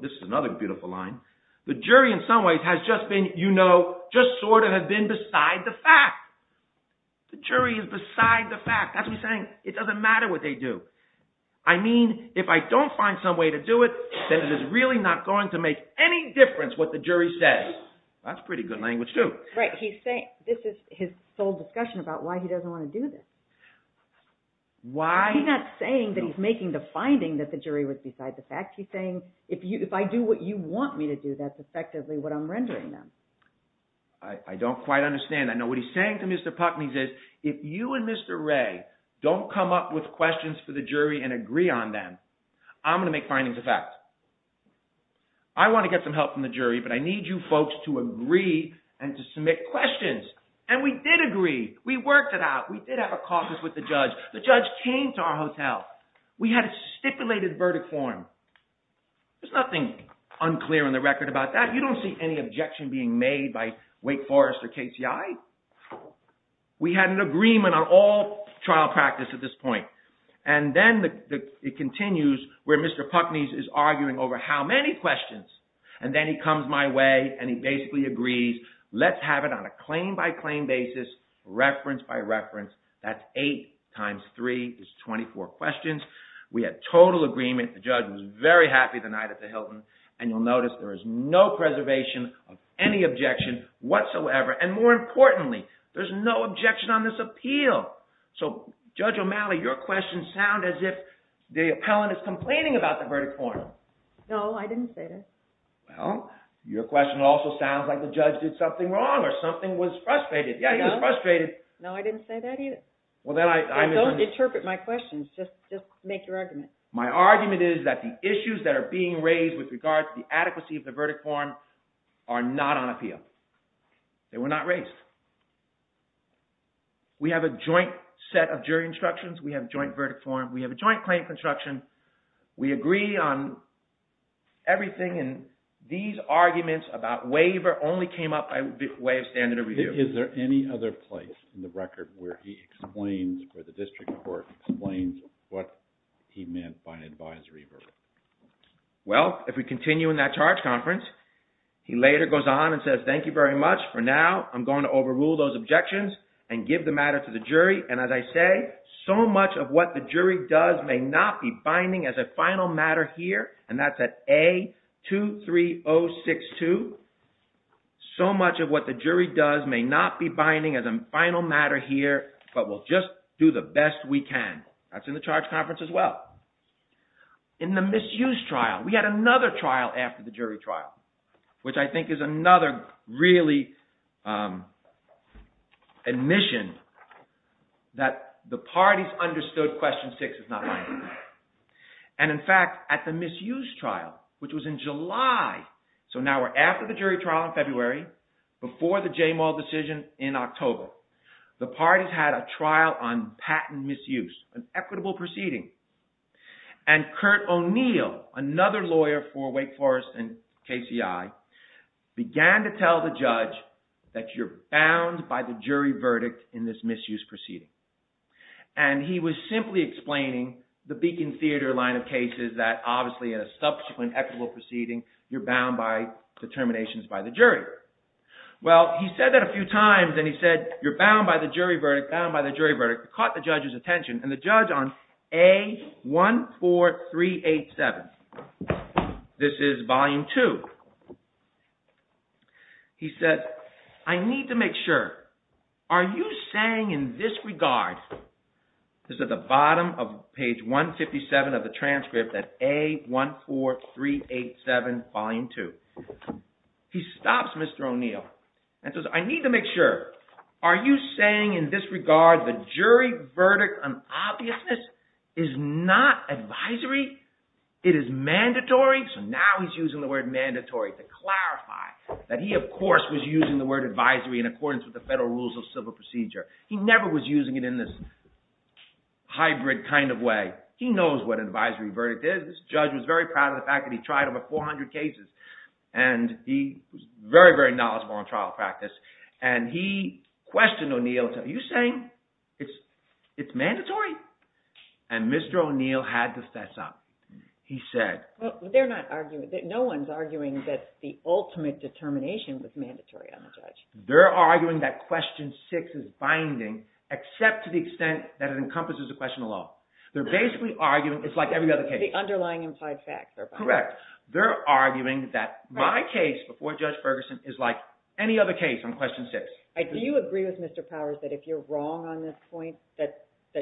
this is another beautiful line, the jury in some ways has just been, you know, just sort of been beside the fact. The jury is beside the fact. That's what he's saying. It doesn't matter what they do. I mean, if I don't find some way to do it, then it is really not going to make any difference what the jury says. That's pretty good language too. Right. This is his sole discussion about why he doesn't want to do this. Why? He's not saying that he's making the finding that the jury was beside the fact. He's saying if I do what you want me to do, that's effectively what I'm rendering them. I don't quite understand. I know what he's saying to Mr. Tuckney is if you and Mr. Ray don't come up with questions for the jury and agree on them, I'm going to make findings of fact. I want to get some help from the jury, but I need you folks to agree and to submit questions. And we did agree. We worked it out. We did have a caucus with the judge. The judge came to our hotel. We had a stipulated verdict for him. There's nothing unclear on the record about that. You don't see any objection being made by Wake Forest or KCI. We had an agreement on all trial practice at this point. And then it continues where Mr. Tuckney is arguing over how many questions. And then he comes my way and he basically agrees. Let's have it on a claim by claim basis, reference by reference. That's eight times three is 24 questions. We had total agreement. The judge was very happy the night at the Hilton, and you'll notice there is no preservation of any objection whatsoever. And more importantly, there's no objection on this appeal. So, Judge O'Malley, your questions sound as if the appellant is complaining about the verdict for him. No, I didn't say that. Well, your question also sounds like the judge did something wrong or something was frustrated. Yeah, he was frustrated. No, I didn't say that either. Don't interpret my questions. Just make your argument. My argument is that the issues that are being raised with regard to the adequacy of the verdict form are not on appeal. They were not raised. We have a joint set of jury instructions. We have joint verdict form. We have a joint claim construction. We agree on everything, and these arguments about waiver only came up by way of standard of review. Is there any other place in the record where he explains, where the district court explains what he meant by an advisory verdict? Well, if we continue in that charge conference, he later goes on and says, Thank you very much. For now, I'm going to overrule those objections and give the matter to the jury. And as I say, so much of what the jury does may not be binding as a final matter here, and that's at A23062. So much of what the jury does may not be binding as a final matter here, but we'll just do the best we can. That's in the charge conference as well. In the misuse trial, we had another trial after the jury trial, which I think is another really admission that the parties understood question six was not binding. And in fact, at the misuse trial, which was in July, so now we're after the jury trial in February, before the Jamal decision in October, the parties had a trial on patent misuse, an equitable proceeding. And Kurt O'Neill, another lawyer for Wake Forest and KCI, began to tell the judge that you're bound by the jury verdict in this misuse proceeding. And he was simply explaining the Beacon Theater line of cases that obviously in a subsequent equitable proceeding, you're bound by determinations by the jury. Well, he said that a few times, and he said, you're bound by the jury verdict, bound by the jury verdict. It caught the judge's attention, and the judge on A14387, this is volume two. He said, I need to make sure, are you saying in this regard, this is at the bottom of page 157 of the transcript at A14387, volume two. He stops Mr. O'Neill and says, I need to make sure, are you saying in this regard the jury verdict on obviousness is not advisory? It is mandatory, so now he's using the word mandatory to clarify that he of course was using the word advisory in accordance with the federal rules of civil procedure. He never was using it in this hybrid kind of way. He knows what advisory verdict is. This judge was very proud of the fact that he tried over 400 cases, and he was very, very knowledgeable on trial practice. And he questioned O'Neill and said, are you saying it's mandatory? And Mr. O'Neill had to fess up. He said… They're not arguing. No one's arguing that the ultimate determination was mandatory on the judge. They're arguing that question six is binding except to the extent that it encompasses the question alone. They're basically arguing it's like every other case. The underlying implied facts are binding. Correct. They're arguing that my case before Judge Ferguson is like any other case on question six. Do you agree with Mr. Powers that if you're wrong on this point that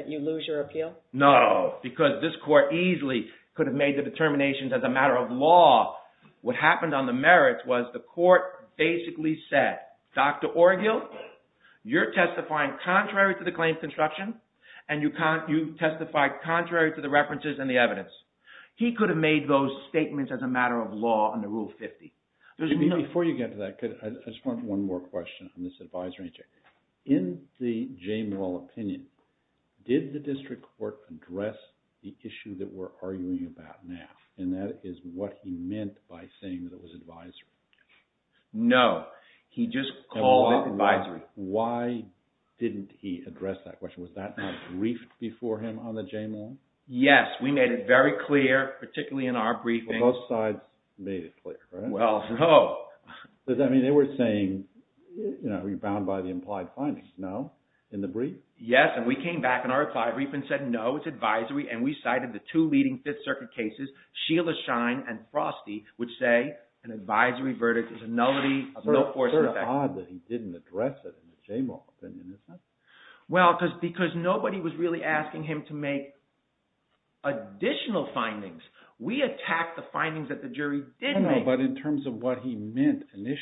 you lose your appeal? No, because this court easily could have made the determinations as a matter of law. What happened on the merits was the court basically said, Dr. O'Neill, you're testifying contrary to the claims construction, and you testified contrary to the references and the evidence. He could have made those statements as a matter of law under Rule 50. Before you get to that, I just want one more question on this advisory. In the Jamal opinion, did the district court address the issue that we're arguing about now, and that is what he meant by saying that it was advisory? No, he just called it advisory. Why didn't he address that question? Was that not briefed before him on the Jamal? Yes, we made it very clear, particularly in our briefing. Both sides made it clear, right? Well, no. I mean, they were saying, you're bound by the implied findings. No? In the brief? Yes, and we came back in our reply briefing and said, no, it's advisory, and we cited the two leading Fifth Circuit cases, Sheila Shine and Frosty, which say an advisory verdict is a nullity, no force effect. It's sort of odd that he didn't address it in the Jamal opinion, isn't it? Well, because nobody was really asking him to make additional findings. We attacked the findings that the jury did make. But in terms of what he meant initially,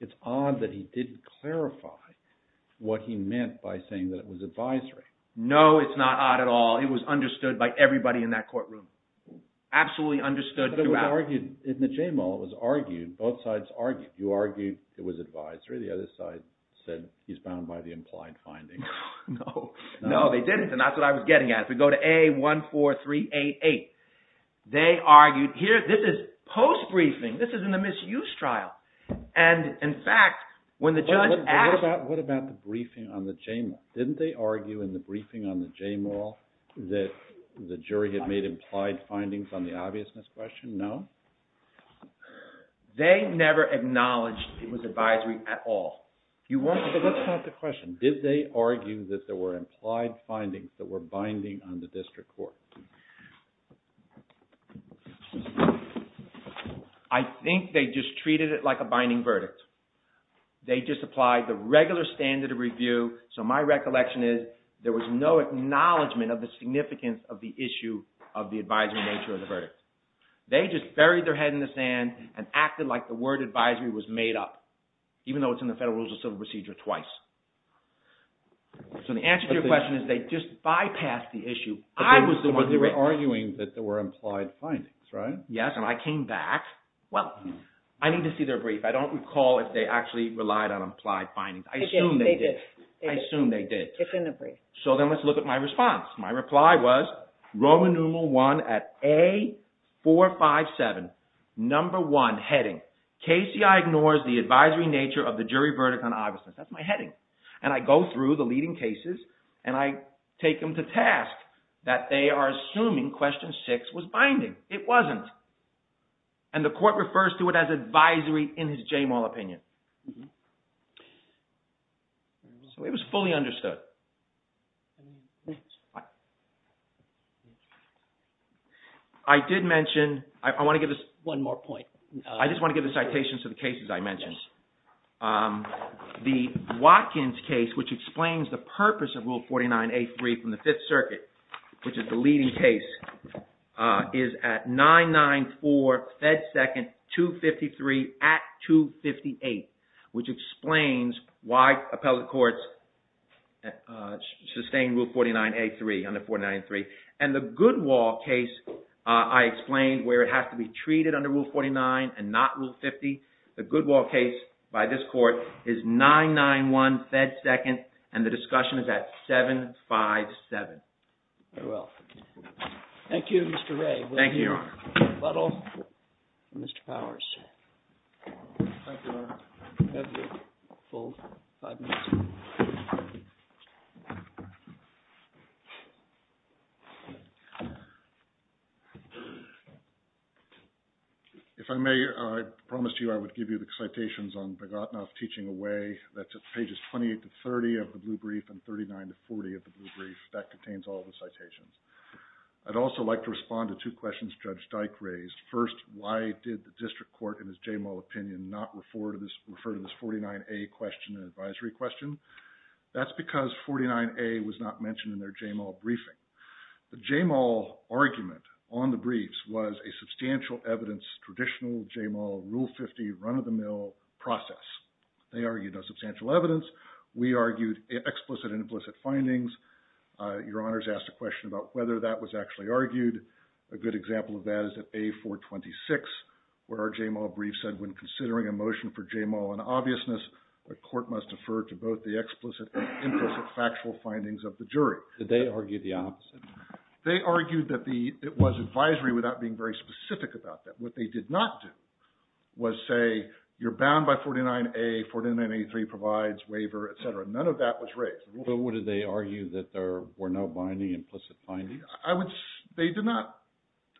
it's odd that he didn't clarify what he meant by saying that it was advisory. No, it's not odd at all. It was understood by everybody in that courtroom. Absolutely understood throughout. But it was argued in the Jamal. It was argued. Both sides argued. You argued it was advisory. The other side said he's bound by the implied findings. No, they didn't, and that's what I was getting at. If we go to AA14388, they argued – this is post-briefing. This is in a misuse trial. And in fact, when the judge asked – What about the briefing on the Jamal? Didn't they argue in the briefing on the Jamal that the jury had made implied findings on the obviousness question? No? They never acknowledged it was advisory at all. Let's ask the question. Did they argue that there were implied findings that were binding on the district court? I think they just treated it like a binding verdict. They just applied the regular standard of review. So my recollection is there was no acknowledgment of the significance of the issue of the advisory nature of the verdict. They just buried their head in the sand and acted like the word advisory was made up, even though it's in the Federal Rules of Civil Procedure twice. So the answer to your question is they just bypassed the issue. But they were arguing that there were implied findings, right? Yes, and I came back. Well, I need to see their brief. I don't recall if they actually relied on implied findings. They did. I assume they did. It's in the brief. So then let's look at my response. My reply was Roman numeral one at A457, number one, heading. KCI ignores the advisory nature of the jury verdict on obviousness. That's my heading. And I go through the leading cases and I take them to task that they are assuming question six was binding. It wasn't. And the court refers to it as advisory in his Jamal opinion. So it was fully understood. I did mention – I want to give – One more point. I just want to give a citation to the cases I mentioned. The Watkins case, which explains the purpose of Rule 49A3 from the Fifth Circuit, which is the leading case, is at 994 Fed Second 253 at 258, which explains why appellate courts sustain Rule 49A3 under 49A3. And the Goodwill case I explained where it has to be treated under Rule 49 and not Rule 50. The Goodwill case by this court is 991 Fed Second and the discussion is at 757. Thank you, Mr. Ray. Thank you, Your Honor. If I may, I promised you I would give you the citations on Bogotnov teaching away. That's at pages 28 to 30 of the blue brief and 39 to 40 of the blue brief. That contains all the citations. I'd also like to respond to two questions Judge Dyke raised. First, why did the district court in his Jamal opinion not refer to this 49A question in an advisory question? That's because 49A was not mentioned in their Jamal briefing. The Jamal argument on the briefs was a substantial evidence traditional Jamal Rule 50 run-of-the-mill process. They argued no substantial evidence. We argued explicit and implicit findings. Your Honor has asked a question about whether that was actually argued. A good example of that is at A426 where our Jamal brief said when considering a motion for Jamal in obviousness, the court must defer to both the explicit and implicit factual findings of the jury. Did they argue the opposite? They argued that it was advisory without being very specific about that. What they did not do was say you're bound by 49A, 49A3 provides waiver, et cetera. None of that was raised. But would they argue that there were no binding implicit findings? They did not.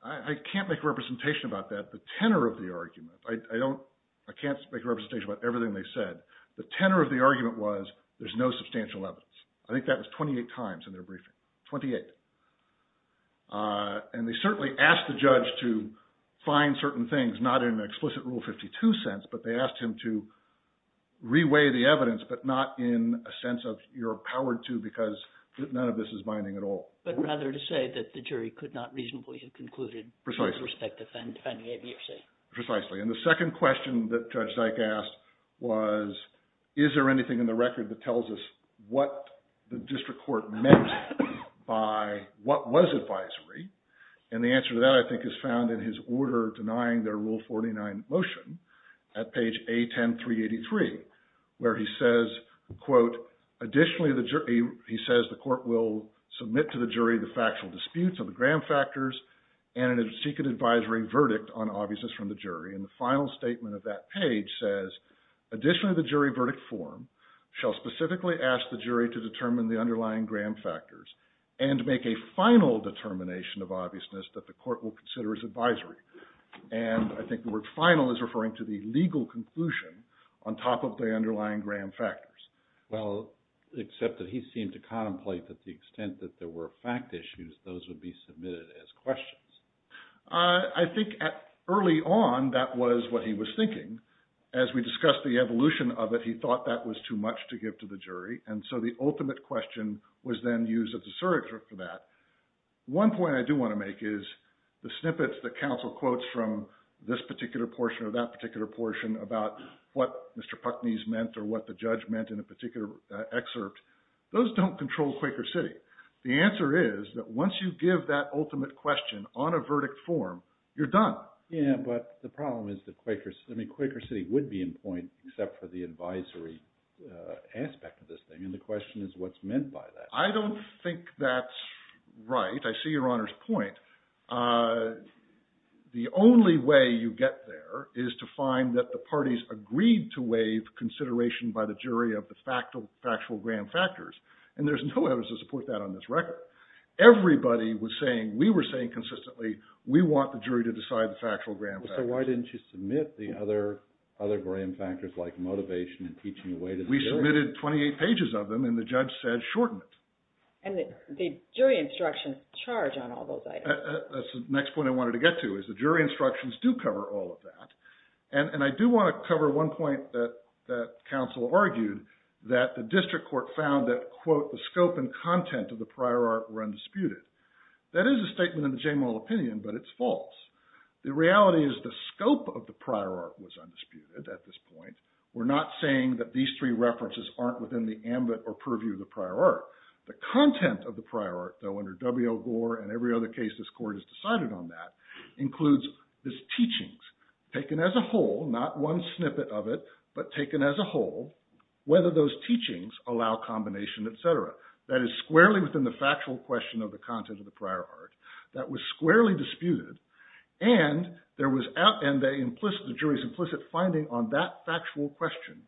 I can't make a representation about that, the tenor of the argument. I can't make a representation about everything they said. The tenor of the argument was there's no substantial evidence. I think that was 28 times in their briefing, 28. And they certainly asked the judge to find certain things not in an explicit Rule 52 sense, but they asked him to reweigh the evidence but not in a sense of you're empowered to because none of this is binding at all. But rather to say that the jury could not reasonably have concluded with respect to finding ABFC. Precisely. And the second question that Judge Zyk asked was is there anything in the record that tells us what the district court meant by what was advisory? And the answer to that I think is found in his order denying their Rule 49 motion at page A10383 where he says, quote, additionally he says the court will submit to the jury the factual disputes of the gram factors and a secret advisory verdict on obviousness from the jury. And the final statement of that page says additionally the jury verdict form shall specifically ask the jury to determine the underlying gram factors and make a final determination of obviousness that the court will consider as advisory. And I think the word final is referring to the legal conclusion on top of the underlying gram factors. Well, except that he seemed to contemplate that the extent that there were fact issues, those would be submitted as questions. I think early on that was what he was thinking. As we discussed the evolution of it, he thought that was too much to give to the jury. And so the ultimate question was then used as a surrogate for that. One point I do want to make is the snippets that counsel quotes from this particular portion or that particular portion about what Mr. Putney's meant or what the judge meant in a particular excerpt. Those don't control Quaker City. The answer is that once you give that ultimate question on a verdict form, you're done. Yeah, but the problem is that Quaker City would be in point except for the advisory aspect of this thing. And the question is what's meant by that. I don't think that's right. I see Your Honor's point. The only way you get there is to find that the parties agreed to waive consideration by the jury of the factual gram factors. And there's no evidence to support that on this record. But everybody was saying, we were saying consistently, we want the jury to decide the factual gram factors. So why didn't you submit the other gram factors like motivation and teaching a way to the jury? We submitted 28 pages of them and the judge said shorten it. And the jury instructions charge on all those items. That's the next point I wanted to get to is the jury instructions do cover all of that. And I do want to cover one point that counsel argued that the district court found that, quote, the scope and content of the prior art were undisputed. That is a statement in the Jamal opinion, but it's false. The reality is the scope of the prior art was undisputed at this point. We're not saying that these three references aren't within the ambit or purview of the prior art. The content of the prior art, though, under W.L. Gore and every other case this court has decided on that, includes these teachings taken as a whole, not one snippet of it, but taken as a whole, whether those teachings allow combination, etc. That is squarely within the factual question of the content of the prior art. That was squarely disputed and there was, and the jury's implicit finding on that factual question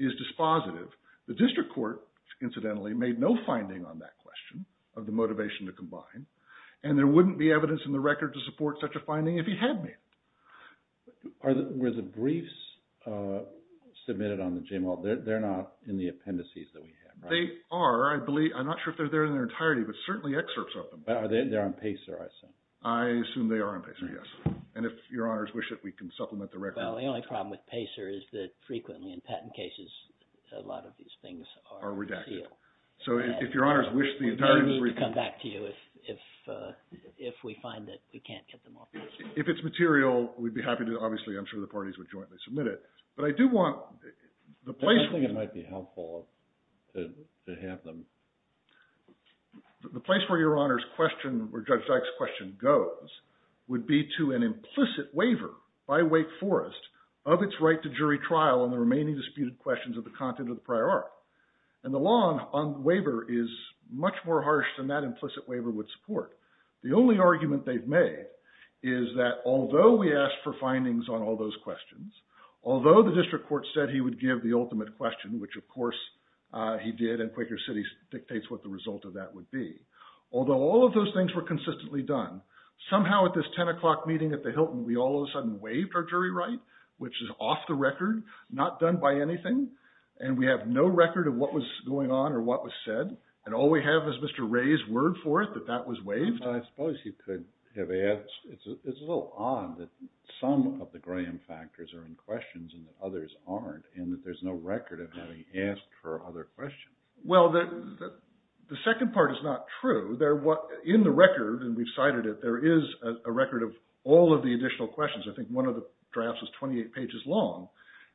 is dispositive. The district court, incidentally, made no finding on that question of the motivation to combine. And there wouldn't be evidence in the record to support such a finding if he had made it. Were the briefs submitted on the Jamal? They're not in the appendices that we have, right? They are. I'm not sure if they're there in their entirety, but certainly excerpts of them. They're on PACER, I assume. I assume they are on PACER, yes. And if your honors wish it, we can supplement the record. Well, the only problem with PACER is that frequently in patent cases, a lot of these things are redacted. So if your honors wish the entirety of the briefs… They need to come back to you if we find that we can't get them all. If it's material, we'd be happy to, obviously, I'm sure the parties would jointly submit it. But I do want the place… I think it might be helpful to have them. The place where your honors question, where Judge Dyke's question goes, would be to an implicit waiver by Wake Forest of its right to jury trial on the remaining disputed questions of the content of the prior art. And the law on waiver is much more harsh than that implicit waiver would support. The only argument they've made is that although we asked for findings on all those questions, although the district court said he would give the ultimate question, which of course he did, and Quaker City dictates what the result of that would be. Although all of those things were consistently done, somehow at this 10 o'clock meeting at the Hilton, we all of a sudden waived our jury right, which is off the record, not done by anything. And we have no record of what was going on or what was said. And all we have is Mr. Ray's word for it, that that was waived. I suppose you could have… It's a little odd that some of the Graham factors are in questions and others aren't, and that there's no record of having asked for other questions. Well, the second part is not true. In the record, and we've cited it, there is a record of all of the additional questions. I think one of the drafts is 28 pages long.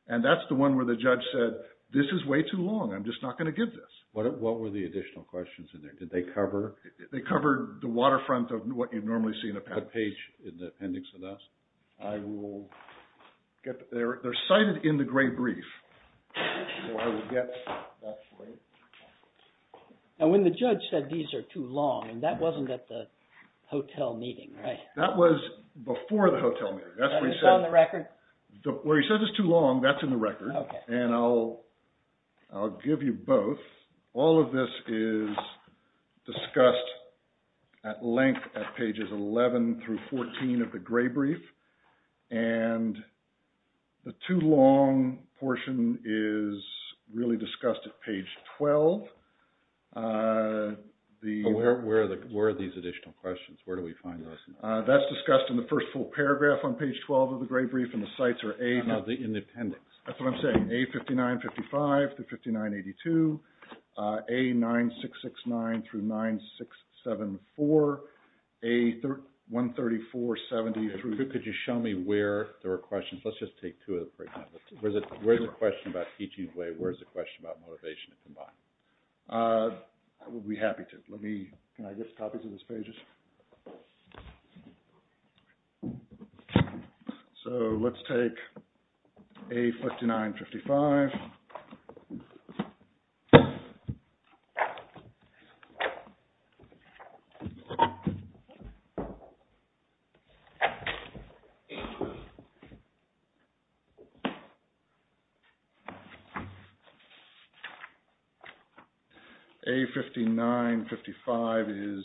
And that's the one where the judge said, this is way too long. I'm just not going to give this. What were the additional questions in there? Did they cover… They covered the waterfront of what you'd normally see in a patent. The page in the appendix of that. I will get… They're cited in the gray brief. So I will get that for you. And when the judge said these are too long, and that wasn't at the hotel meeting, right? That was before the hotel meeting. That's where he said… Is that on the record? Where he says it's too long, that's in the record. And I'll give you both. All of this is discussed at length at pages 11 through 14 of the gray brief. And the too long portion is really discussed at page 12. Where are these additional questions? Where do we find those? That's discussed in the first full paragraph on page 12 of the gray brief. And the sites are A… No, the appendix. That's what I'm saying. A5955 through 5982. A9669 through 9674. A13470 through… Could you show me where there were questions? Let's just take two of them, for example. Where's the question about teaching way? Where's the question about motivation combined? I would be happy to. Let me… Can I get copies of those pages? So, let's take A5955. A5955 is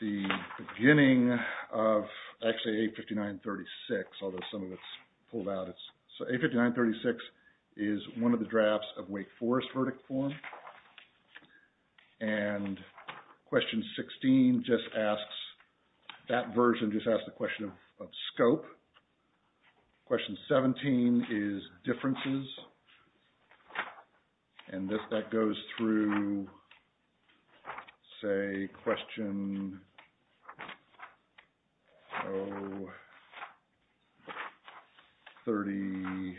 the beginning of, actually, A5936, although some of it's pulled out. So, A5936 is one of the drafts of Wake Forest verdict form. And question 16 just asks… That version just asks the question of scope. Question 17 is differences. And that goes through, say, question O34,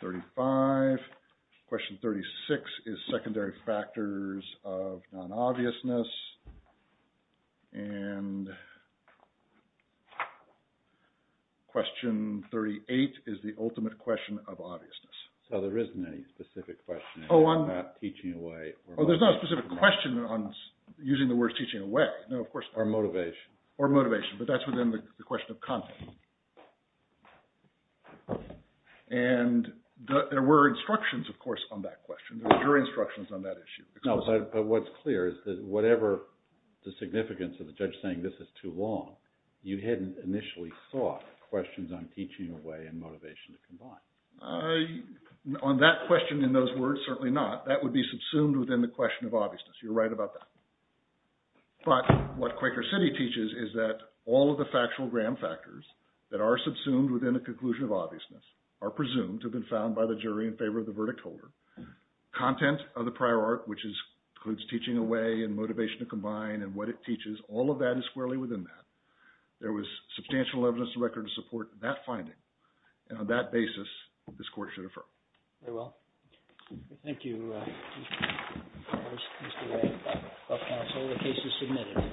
35. Question 36 is secondary factors of non-obviousness. And question 38 is the ultimate question of obviousness. So, there isn't any specific question about teaching away. Oh, there's no specific question on using the word teaching away. No, of course not. Or motivation. Or motivation, but that's within the question of content. And there were instructions, of course, on that question. There were jury instructions on that issue. No, but what's clear is that whatever the significance of the judge saying this is too long, you hadn't initially thought questions on teaching away and motivation to combine. On that question and those words, certainly not. That would be subsumed within the question of obviousness. You're right about that. But what Quaker City teaches is that all of the factual gram factors that are subsumed within the conclusion of obviousness are presumed to have been found by the jury in favor of the verdict holder. Content of the prior art, which includes teaching away and motivation to combine and what it teaches, all of that is squarely within that. There was substantial evidence to record to support that finding. And on that basis, this court should affirm. Very well. Thank you. The case is submitted.